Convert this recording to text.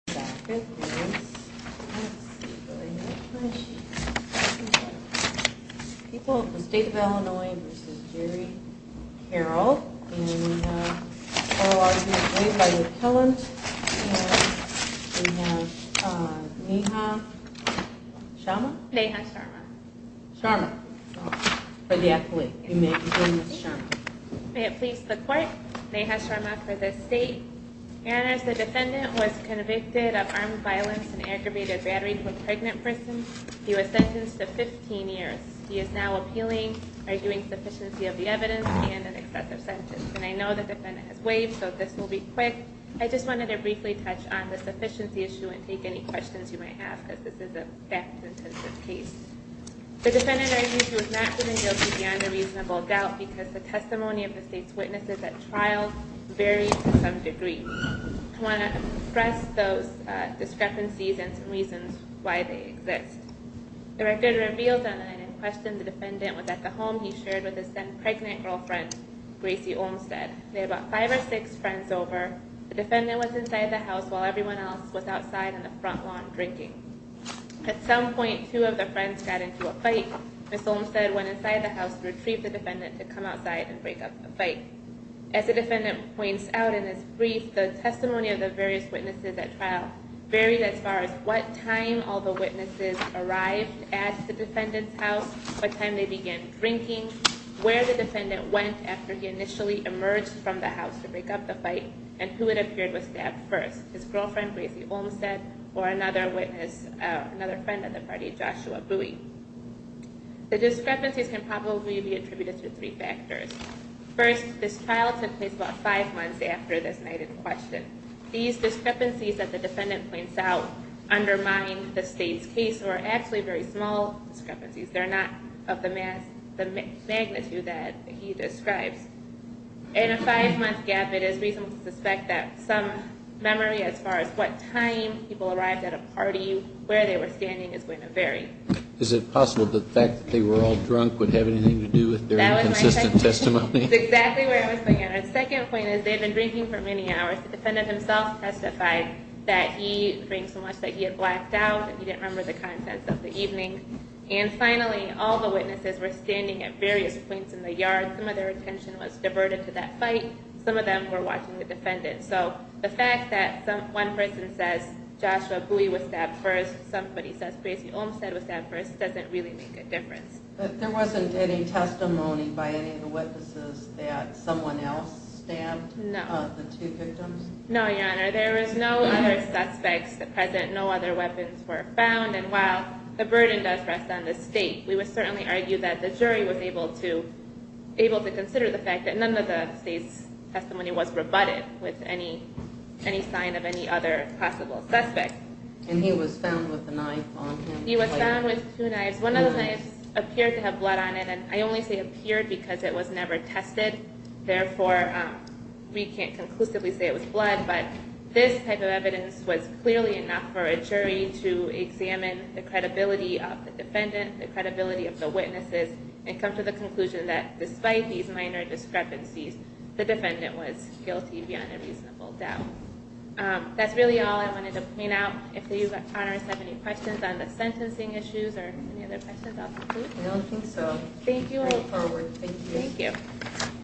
May it please the Court, Neha Sharma for the State. And as the defendant was convicted of armed violence and aggravated battery to a pregnant person, he was sentenced to 15 years. He is now appealing, arguing sufficiency of the evidence and an excessive sentence. And I know the defendant has waived, so this will be quick. I just wanted to briefly touch on the sufficiency issue and take any questions you might have, as this is a theft-intensive case. The defendant argues he was not proven guilty beyond a reasonable doubt because the testimony of the State's witnesses at trial varies to some degree. I want to express those discrepancies and some reasons why they exist. The record reveals that in question the defendant was at the home he shared with his then-pregnant girlfriend, Gracie Olmstead. They had about five or six friends over. The defendant was inside the house while everyone else was outside on the front lawn drinking. At some point, two of the friends got into a fight. Ms. Olmstead went inside the house to retrieve the defendant to come outside and break up the fight. As the defendant points out in his brief, the testimony of the various witnesses at trial varies as far as what time all the witnesses arrived at the defendant's house, what time they began drinking, where the defendant went after he initially emerged from the house to break up the fight, and who had appeared with stab first, his girlfriend, Gracie Olmstead, or another witness, another friend of the party, Joshua Bowie. The discrepancies can probably be attributed to three factors. First, this trial took place about five months after this night in question. These discrepancies that the defendant points out undermine the State's case or are actually very small discrepancies. They're not of the magnitude that he describes. In a five-month gap, it is reasonable to suspect that some memory as far as what time people arrived at a party, where they were standing, is going to vary. Is it possible that the fact that they were all drunk would have anything to do with their inconsistent testimony? That was my second point. That's exactly where I was looking at. Our second point is they had been drinking for many hours. The defendant himself testified that he drank so much that he had blacked out and he didn't remember the contents of the evening. Finally, all the witnesses were standing at various points in the yard. Some of their attention was diverted to that fight. Some of them were watching the defendant. The fact that one person says Joshua Bowie was stabbed first, somebody says Gracie Olmstead was stabbed first, doesn't really make a difference. There wasn't any testimony by any of the witnesses that someone else stabbed the two victims? No, Your Honor. There is no other suspects present. No other weapons were found. While the burden does rest on the state, we would certainly argue that the jury was able to consider the fact that none of the state's testimony was rebutted with any sign of any other possible suspect. And he was found with a knife on him? He was found with two knives. One of the knives appeared to have blood on it. I only say appeared because it was never tested. Therefore, we can't conclusively say it was blood, but this type of evidence was clearly enough for a jury to examine the credibility of the defendant, the credibility of the witnesses, and come to the conclusion that despite these minor discrepancies, the defendant was guilty beyond a reasonable doubt. That's really all I wanted to point out. If you, Your Honor, have any questions on the sentencing issues or any other questions, I'll conclude. I don't think so. Thank you. Thank you. Thank you. Thank you.